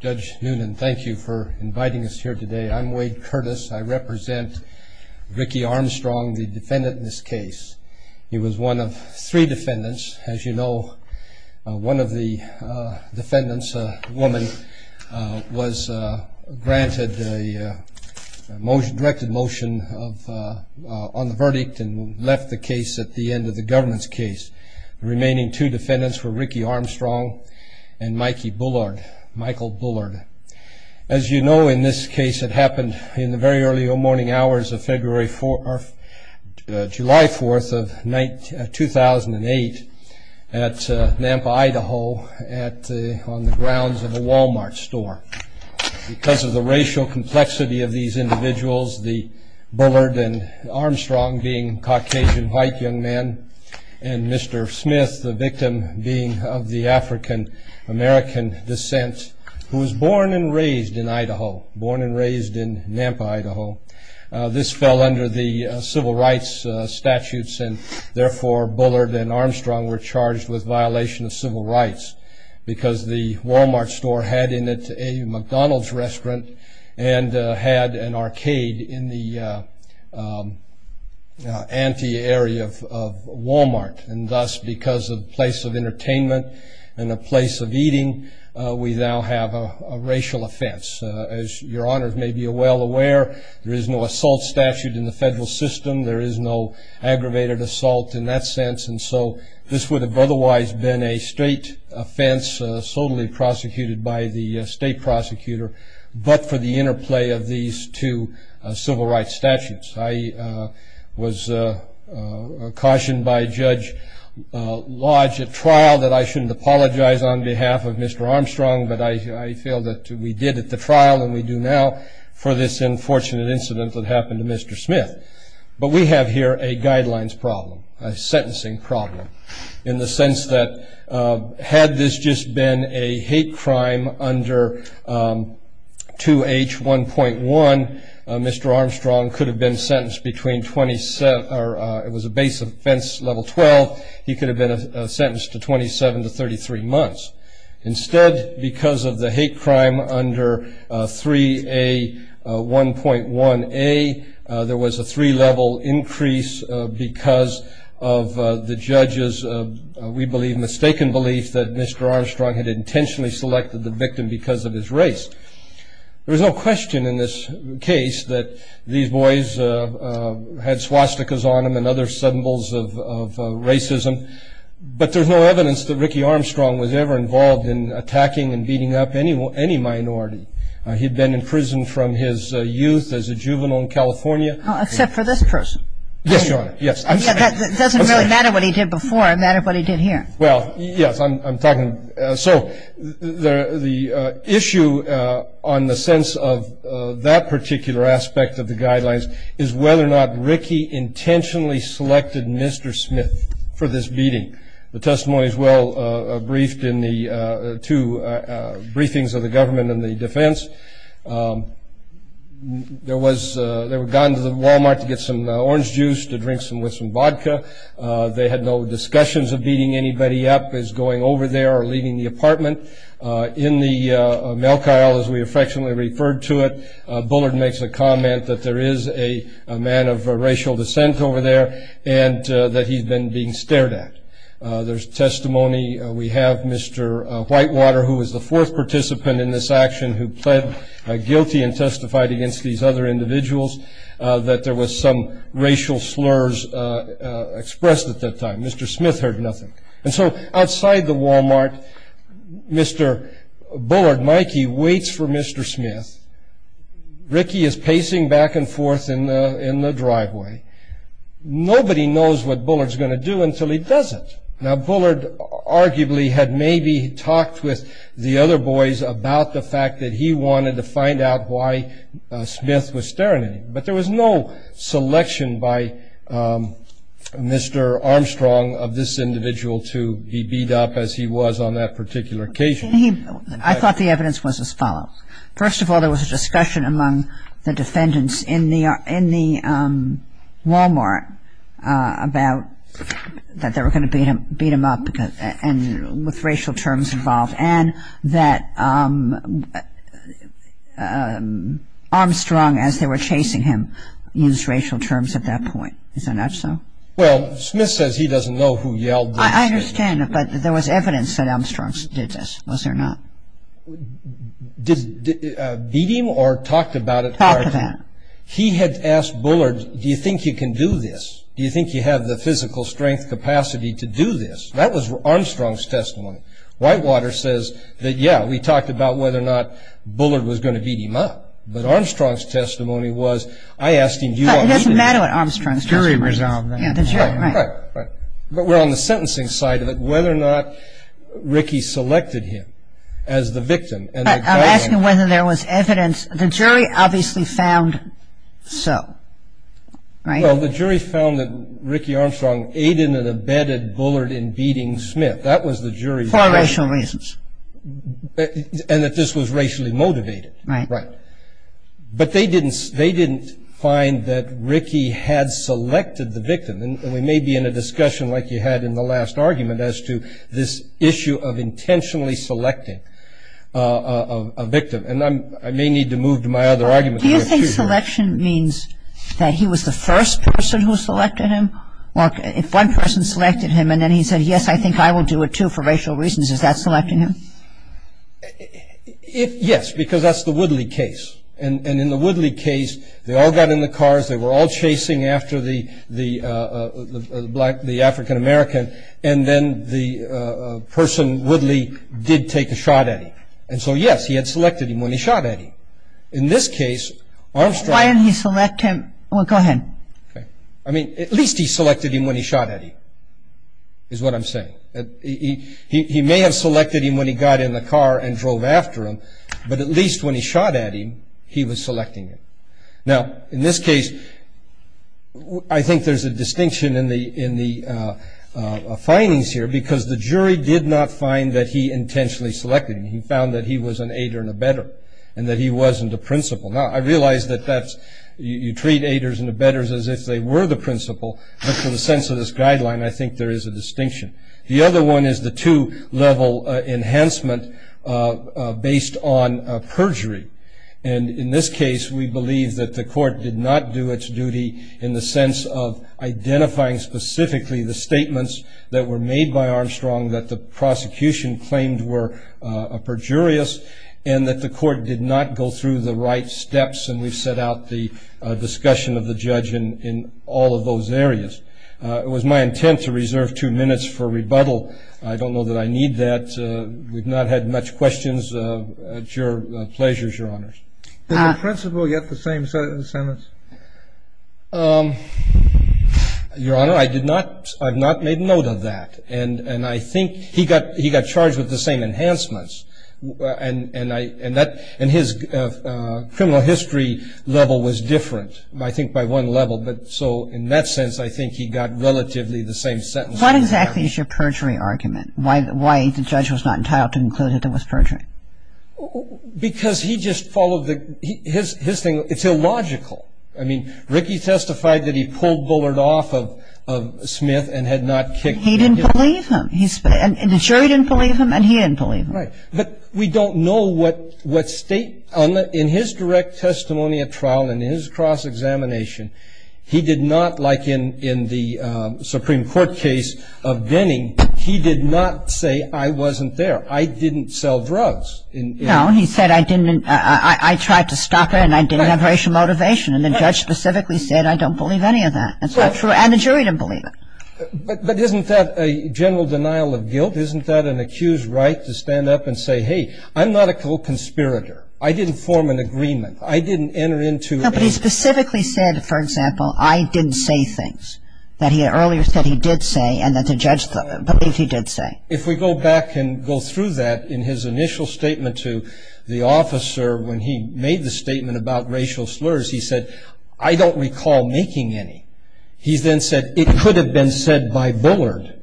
Judge Noonan, thank you for inviting us here today. I'm Wade Curtis. I represent Ricky Armstrong, the defendant in this case. He was one of three defendants. As you know, one of the defendants, a woman, was granted a motion, directed motion on the verdict and left the case at the end of the government's case. The remaining two defendants were Ricky Armstrong and Michael Bullard. As you know, in this case, it happened in the very early morning hours of July 4, 2008, at Nampa, Idaho, on the grounds of a Walmart store. Because of the racial complexity of these individuals, Bullard and Armstrong being Caucasian white young men, and Mr. Smith, the victim, being of the African-American descent, who was born and raised in Idaho, born and raised in Nampa, Idaho. This fell under the civil rights statutes, and therefore Bullard and Armstrong were charged with violation of civil rights, because the Walmart store had in it a McDonald's restaurant and had an arcade in the ante area of Walmart. And thus, because of the place of entertainment and a place of eating, we now have a racial offense. As your honors may be well aware, there is no assault statute in the federal system. There is no aggravated assault in that sense, and so this would have otherwise been a state offense solely prosecuted by the state prosecutor, but for the interplay of these two civil rights statutes. I was cautioned by Judge Lodge at trial that I shouldn't apologize on behalf of Mr. Armstrong, but I feel that we did at the trial, and we do now, for this unfortunate incident that happened to Mr. Smith. But we have here a guidelines problem, a sentencing problem, in the sense that had this just been a hate crime under 2H1.1, Mr. Armstrong could have been sentenced between 27, or it was a base offense level 12, he could have been sentenced to 27 to 33 months. Instead, because of the hate crime under 3A1.1A, there was a three level increase because of the judge's, we believe, mistaken belief that Mr. Armstrong had intentionally selected the victim because of his race. There's no question in this case that these boys had swastikas on them and other symbols of racism, but there's no evidence that Ricky Armstrong was ever involved in attacking and beating up any minority. He'd been in prison from his youth as a juvenile in California. Except for this person. Yes, Your Honor, yes. It doesn't really matter what he did before, it mattered what he did here. Well, yes, I'm talking, so the issue on the sense of that particular aspect of the guidelines is whether or not Ricky intentionally selected Mr. Smith for this beating. The testimony is well briefed in the two briefings of the government and the defense. There was, they had gone to the Walmart to get some orange juice to drink with some vodka. They had no discussions of beating anybody up as going over there or leaving the apartment. In the mail car, as we affectionately referred to it, Bullard makes a comment that there is a man of racial descent over there and that he's been being stared at. There's testimony, we have Mr. Whitewater, who was the fourth participant in this action, who pled guilty and testified against these other individuals that there was some racial slurs expressed at that time. Mr. Smith heard nothing. And so, outside the Walmart, Mr. Bullard, Mikey, waits for Mr. Smith. Ricky is pacing back and forth in the driveway. Nobody knows what Bullard's going to do until he does it. Now, Bullard arguably had maybe talked with the other boys about the fact that he wanted to find out why Smith was staring at him. But there was no selection by Mr. Armstrong of this individual to be beat up as he was on that particular occasion. First of all, there was a discussion among the defendants in the Walmart about that they were going to beat him up with racial terms involved and that Armstrong, as they were chasing him, used racial terms at that point. Isn't that so? Well, Smith says he doesn't know who yelled those things. I understand, but there was evidence that Armstrong did this, was there not? Beat him or talked about it? Talked about it. He had asked Bullard, do you think you can do this? Do you think you have the physical strength capacity to do this? That was Armstrong's testimony. Whitewater says that, yeah, we talked about whether or not Bullard was going to beat him up. But Armstrong's testimony was, I asked him, do you want me to? It doesn't matter what Armstrong's testimony was. The jury resolved that. Right, right. But we're on the sentencing side of it, whether or not Rickey selected him as the victim. I'm asking whether there was evidence. The jury obviously found so, right? Well, the jury found that Rickey Armstrong aided and abetted Bullard in beating Smith. That was the jury's point. For racial reasons. And that this was racially motivated. Right. Right. But they didn't find that Rickey had selected the victim. And we may be in a discussion, like you had in the last argument, as to this issue of intentionally selecting a victim. And I may need to move to my other argument. Do you think selection means that he was the first person who selected him? If one person selected him and then he said, yes, I think I will do it, too, for racial reasons, is that selecting him? Yes, because that's the Woodley case. And in the Woodley case, they all got in the cars. They were all chasing after the African-American. And then the person, Woodley, did take a shot at him. And so, yes, he had selected him when he shot at him. In this case, Armstrong. Why didn't he select him? Go ahead. Okay. I mean, at least he selected him when he shot at him, is what I'm saying. He may have selected him when he got in the car and drove after him. But at least when he shot at him, he was selecting him. Now, in this case, I think there's a distinction in the findings here, because the jury did not find that he intentionally selected him. He found that he was an aider and abetter and that he wasn't a principal. Now, I realize that you treat aiders and abetters as if they were the principal. But for the sense of this guideline, I think there is a distinction. The other one is the two-level enhancement based on perjury. And in this case, we believe that the court did not do its duty in the sense of identifying specifically the statements that were made by Armstrong that the prosecution claimed were perjurious and that the court did not go through the right steps. And we've set out the discussion of the judge in all of those areas. It was my intent to reserve two minutes for rebuttal. I don't know that I need that. We've not had much questions. It's your pleasure, Your Honors. Did the principal get the same sentence? Your Honor, I did not. I've not made note of that. And I think he got charged with the same enhancements. And his criminal history level was different, I think, by one level. So in that sense, I think he got relatively the same sentence. What exactly is your perjury argument? Why the judge was not entitled to conclude that there was perjury? Because he just followed the ‑‑ his thing, it's illogical. I mean, Ricky testified that he pulled Bullard off of Smith and had not kicked him. He didn't believe him. And the jury didn't believe him, and he didn't believe him. Right. But we don't know what state ‑‑ in his direct testimony at trial, in his cross-examination, he did not, like in the Supreme Court case of Denning, he did not say, I wasn't there. I didn't sell drugs. No, he said, I tried to stop it, and I didn't have racial motivation. And the judge specifically said, I don't believe any of that. And the jury didn't believe him. But isn't that a general denial of guilt? Isn't that an accused right to stand up and say, hey, I'm not a conspirator. I didn't form an agreement. I didn't enter into a ‑‑ No, but he specifically said, for example, I didn't say things that he earlier said he did say and that the judge believed he did say. If we go back and go through that in his initial statement to the officer when he made the statement about racial slurs, he said, I don't recall making any. He then said, it could have been said by Bullard.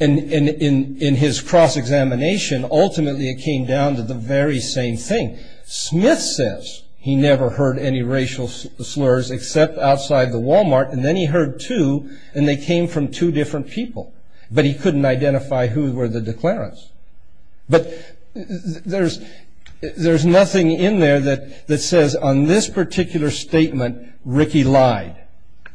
And in his cross-examination, ultimately it came down to the very same thing. Smith says he never heard any racial slurs except outside the Walmart, and then he heard two, and they came from two different people. But he couldn't identify who were the declarants. But there's nothing in there that says on this particular statement, Ricky lied.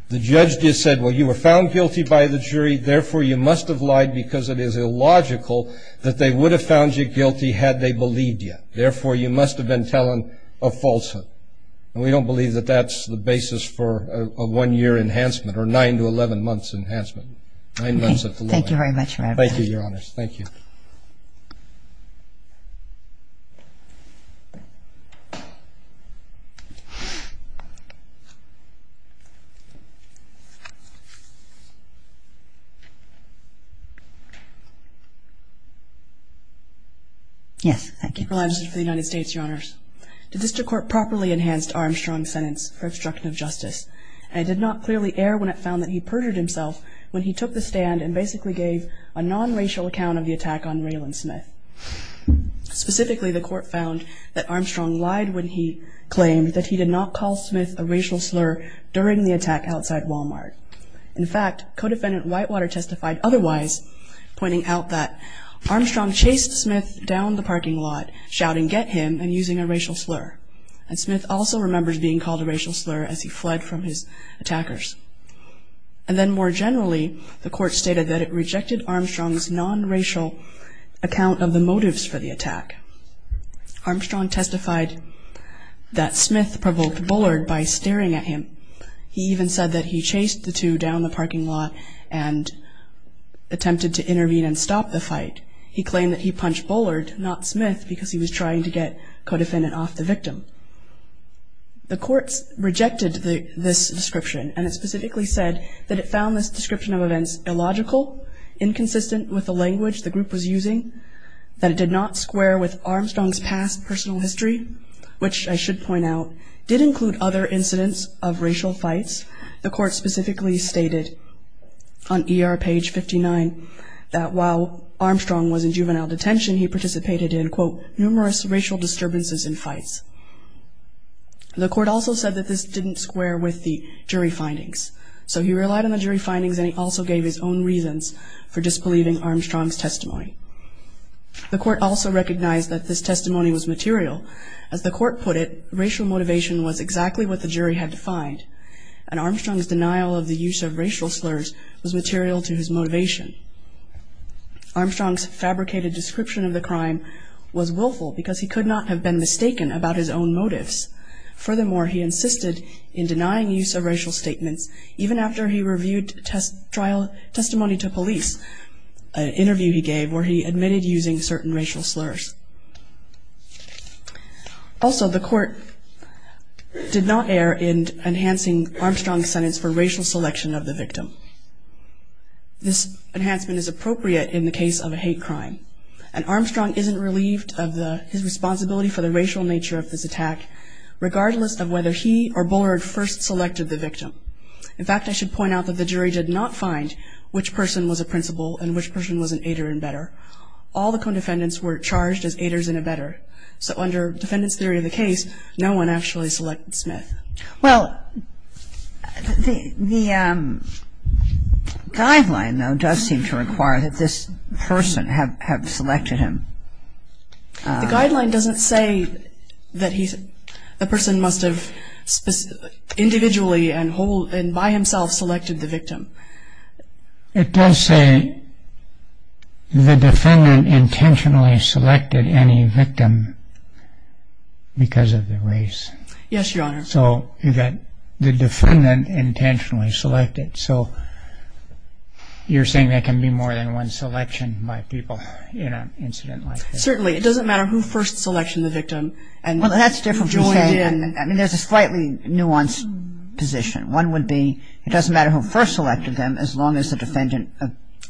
The judge just said, well, you were found guilty by the jury, therefore you must have lied because it is illogical that they would have found you guilty had they believed you. Therefore, you must have been telling a falsehood. And we don't believe that that's the basis for a one‑year enhancement or nine to 11 months enhancement. Thank you very much for everything. Thank you, Your Honors. Thank you. Yes. Thank you. Your Honor, the district court properly enhanced Armstrong's sentence for obstruction of justice. And it did not clearly err when it found that he perjured himself when he took the stand and basically gave a non‑racial account of the attacks that were committed against him. Specifically, the court found that Armstrong lied when he claimed that he did not call Smith a racial slur during the attack outside Walmart. In fact, co‑defendant Whitewater testified otherwise, pointing out that Armstrong chased Smith down the parking lot, shouting, get him, and using a racial slur. And Smith also remembers being called a racial slur as he fled from his attackers. And then more generally, the court stated that it rejected Armstrong's non‑racial account of the motives for the attack. Armstrong testified that Smith provoked Bullard by staring at him. He even said that he chased the two down the parking lot and attempted to intervene and stop the fight. He claimed that he punched Bullard, not Smith, because he was trying to get co‑defendant off the victim. The courts rejected this description, and it specifically said that it found this description of events illogical, inconsistent with the language the group was using, that it did not square with Armstrong's past personal history, which I should point out did include other incidents of racial fights. The court specifically stated on ER page 59 that while Armstrong was in juvenile detention, he participated in, quote, numerous racial disturbances and fights. The court also said that this didn't square with the jury findings. So he relied on the jury findings, and he also gave his own reasons for disbelieving Armstrong's testimony. The court also recognized that this testimony was material. As the court put it, racial motivation was exactly what the jury had defined, and Armstrong's denial of the use of racial slurs was material to his motivation. Armstrong's fabricated description of the crime was willful because he could not have been mistaken about his own motives. Furthermore, he insisted in denying use of racial statements even after he reviewed testimony to police, an interview he gave where he admitted using certain racial slurs. Also, the court did not err in enhancing Armstrong's sentence for racial selection of the victim. This enhancement is appropriate in the case of a hate crime, and Armstrong isn't relieved of his responsibility for the racial nature of this attack, regardless of whether he or Bullard first selected the victim. In fact, I should point out that the jury did not find which person was a principal and which person was an aider and abetter. All the co-defendants were charged as aiders and abetter. So under defendant's theory of the case, no one actually selected Smith. Well, the guideline, though, does seem to require that this person have selected him. The guideline doesn't say that the person must have individually and by himself selected the victim. It does say the defendant intentionally selected any victim because of the race. Yes, Your Honor. So you've got the defendant intentionally selected. So you're saying there can be more than one selection by people in an incident like this? Certainly. It doesn't matter who first selected the victim and joined in. Well, that's different. I mean, there's a slightly nuanced position. One would be it doesn't matter who first selected them as long as the defendant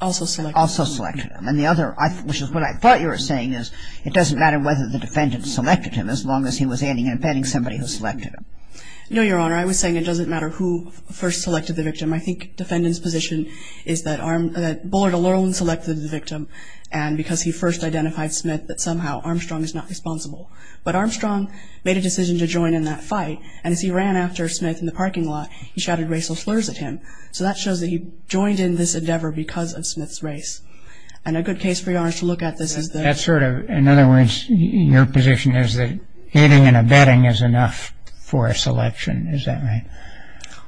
also selected them. And the other, which is what I thought you were saying, is it doesn't matter whether the defendant selected him as long as he was aiding and abetting somebody who selected him. No, Your Honor. I was saying it doesn't matter who first selected the victim. I think defendant's position is that Bullard alone selected the victim and because he first identified Smith that somehow Armstrong is not responsible. But Armstrong made a decision to join in that fight, and as he ran after Smith in the parking lot, he shouted racial slurs at him. So that shows that he joined in this endeavor because of Smith's race. And a good case for Your Honor to look at this is the – That's sort of – in other words, your position is that aiding and abetting is enough for a selection. Is that right?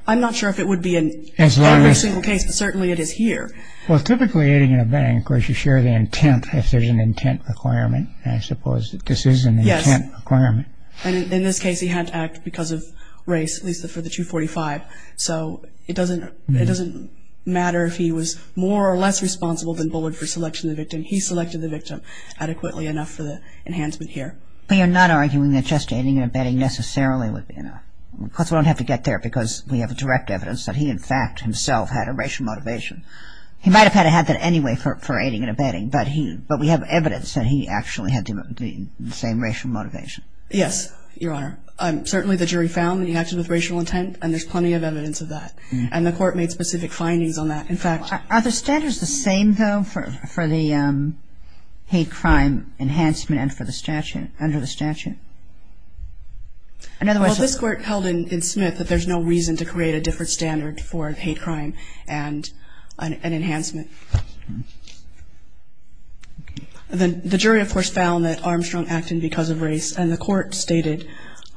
I'm not sure if it would be in every single case, but certainly it is here. Well, typically aiding and abetting, of course, you share the intent. If there's an intent requirement, I suppose this is an intent requirement. Yes. And in this case he had to act because of race, at least for the 245. So it doesn't matter if he was more or less responsible than Bullard for selection of the victim. He selected the victim adequately enough for the enhancement here. We are not arguing that just aiding and abetting necessarily would be enough. Of course, we don't have to get there because we have direct evidence that he in fact himself had a racial motivation. He might have had that anyway for aiding and abetting, but we have evidence that he actually had the same racial motivation. Yes, Your Honor. Certainly the jury found that he acted with racial intent, and there's plenty of evidence of that. And the Court made specific findings on that. In fact – Are the standards the same, though, for the hate crime enhancement and for the statute – under the statute? Well, this Court held in Smith that there's no reason to create a different standard for hate crime and enhancement. The jury, of course, found that Armstrong acted because of race, and the Court stated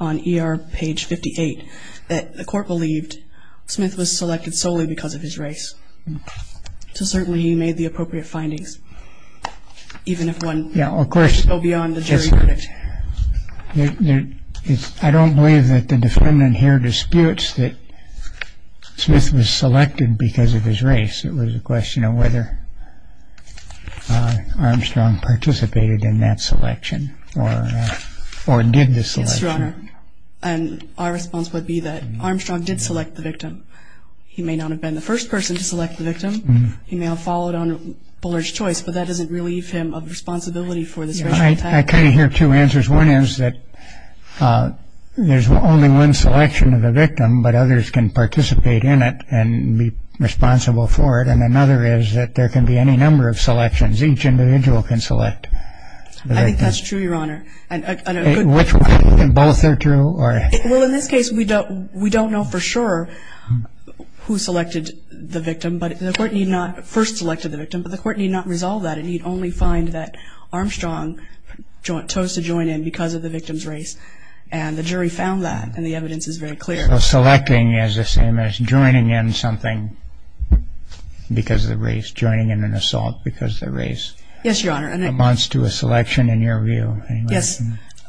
on ER page 58 that the Court believed Smith was selected solely because of his race. So certainly he made the appropriate findings, even if one – Yeah, of course. I don't believe that the defendant here disputes that Smith was selected because of his race. It was a question of whether Armstrong participated in that selection or did the selection. Yes, Your Honor. And our response would be that Armstrong did select the victim. He may not have been the first person to select the victim. He may have followed on Bullard's choice, but that doesn't relieve him of responsibility for this racial attack. I kind of hear two answers. One is that there's only one selection of the victim, but others can participate in it and be responsible for it. And another is that there can be any number of selections. Each individual can select the victim. I think that's true, Your Honor. Which one? Both are true? Well, in this case, we don't know for sure who selected the victim. But the court need not – first selected the victim. But the court need not resolve that. It need only find that Armstrong chose to join in because of the victim's race. And the jury found that. And the evidence is very clear. So selecting is the same as joining in something because of the race, joining in an assault because of the race. Yes, Your Honor. And it amounts to a selection in your view. Yes.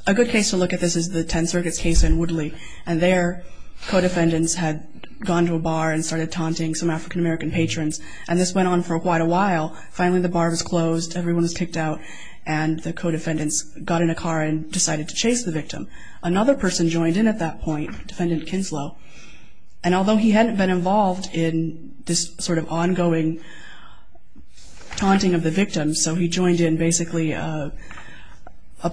A good case to look at this is the Tenth Circuit's case in Woodley. And their co-defendants had gone to a bar and started taunting some African-American patrons. And this went on for quite a while. Finally, the bar was closed, everyone was kicked out, and the co-defendants got in a car and decided to chase the victim. Another person joined in at that point, Defendant Kinslow. And although he hadn't been involved in this sort of ongoing taunting of the victim, so he joined in basically a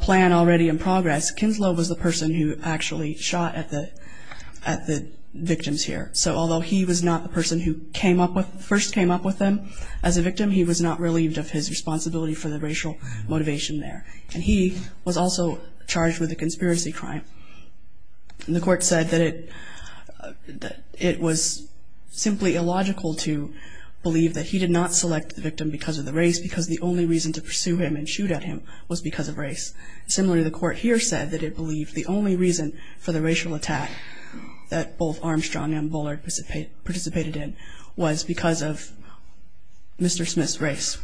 plan already in progress, Kinslow was the person who actually shot at the victims here. So although he was not the person who first came up with them as a victim, he was not relieved of his responsibility for the racial motivation there. And he was also charged with a conspiracy crime. And the court said that it was simply illogical to believe that he did not select the victim because of the race because the only reason to pursue him and shoot at him was because of race. Similarly, the court here said that it believed the only reason for the racial attack that both Armstrong and Bullard participated in was because of Mr. Smith's race.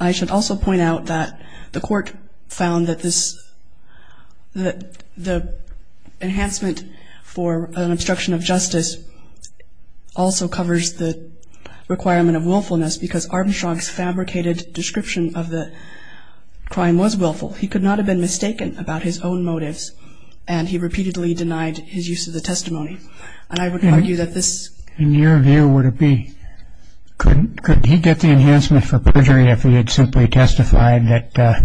I should also point out that the court found that the enhancement for an obstruction of justice also covers the requirement of willfulness because Armstrong's fabricated description of the crime was willful. He could not have been mistaken about his own motives, and he repeatedly denied his use of the testimony. And I would argue that this... In your view, would it be... Could he get the enhancement for perjury if he had simply testified that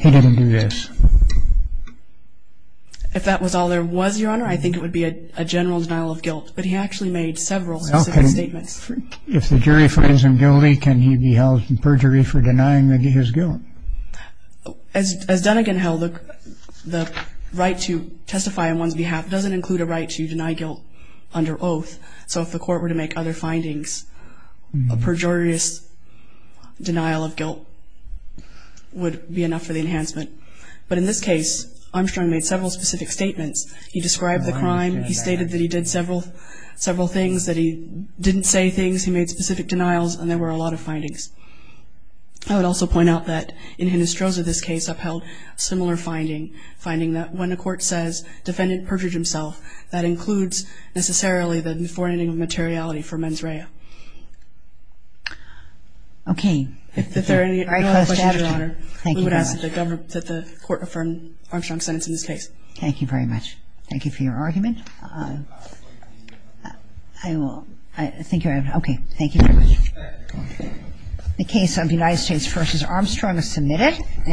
he didn't do this? If that was all there was, Your Honor, I think it would be a general denial of guilt. But he actually made several specific statements. If the jury finds him guilty, can he be held in perjury for denying his guilt? As Dunnegan held it, the right to testify on one's behalf doesn't include a right to deny guilt under oath. So if the court were to make other findings, a pejorious denial of guilt would be enough for the enhancement. But in this case, Armstrong made several specific statements. He described the crime. He stated that he did several things, that he didn't say things. He made specific denials, and there were a lot of findings. I would also point out that in Hinestrosa, this case, upheld a similar finding, finding that when a court says defendant perjured himself, that includes necessarily the forenoning of materiality for mens rea. Okay. If there are any other questions, Your Honor, we would ask that the court affirm Armstrong's sentence in this case. Thank you very much. Thank you for your argument. I will. Thank you. Okay. Thank you very much. The case of United States v. Armstrong is submitted.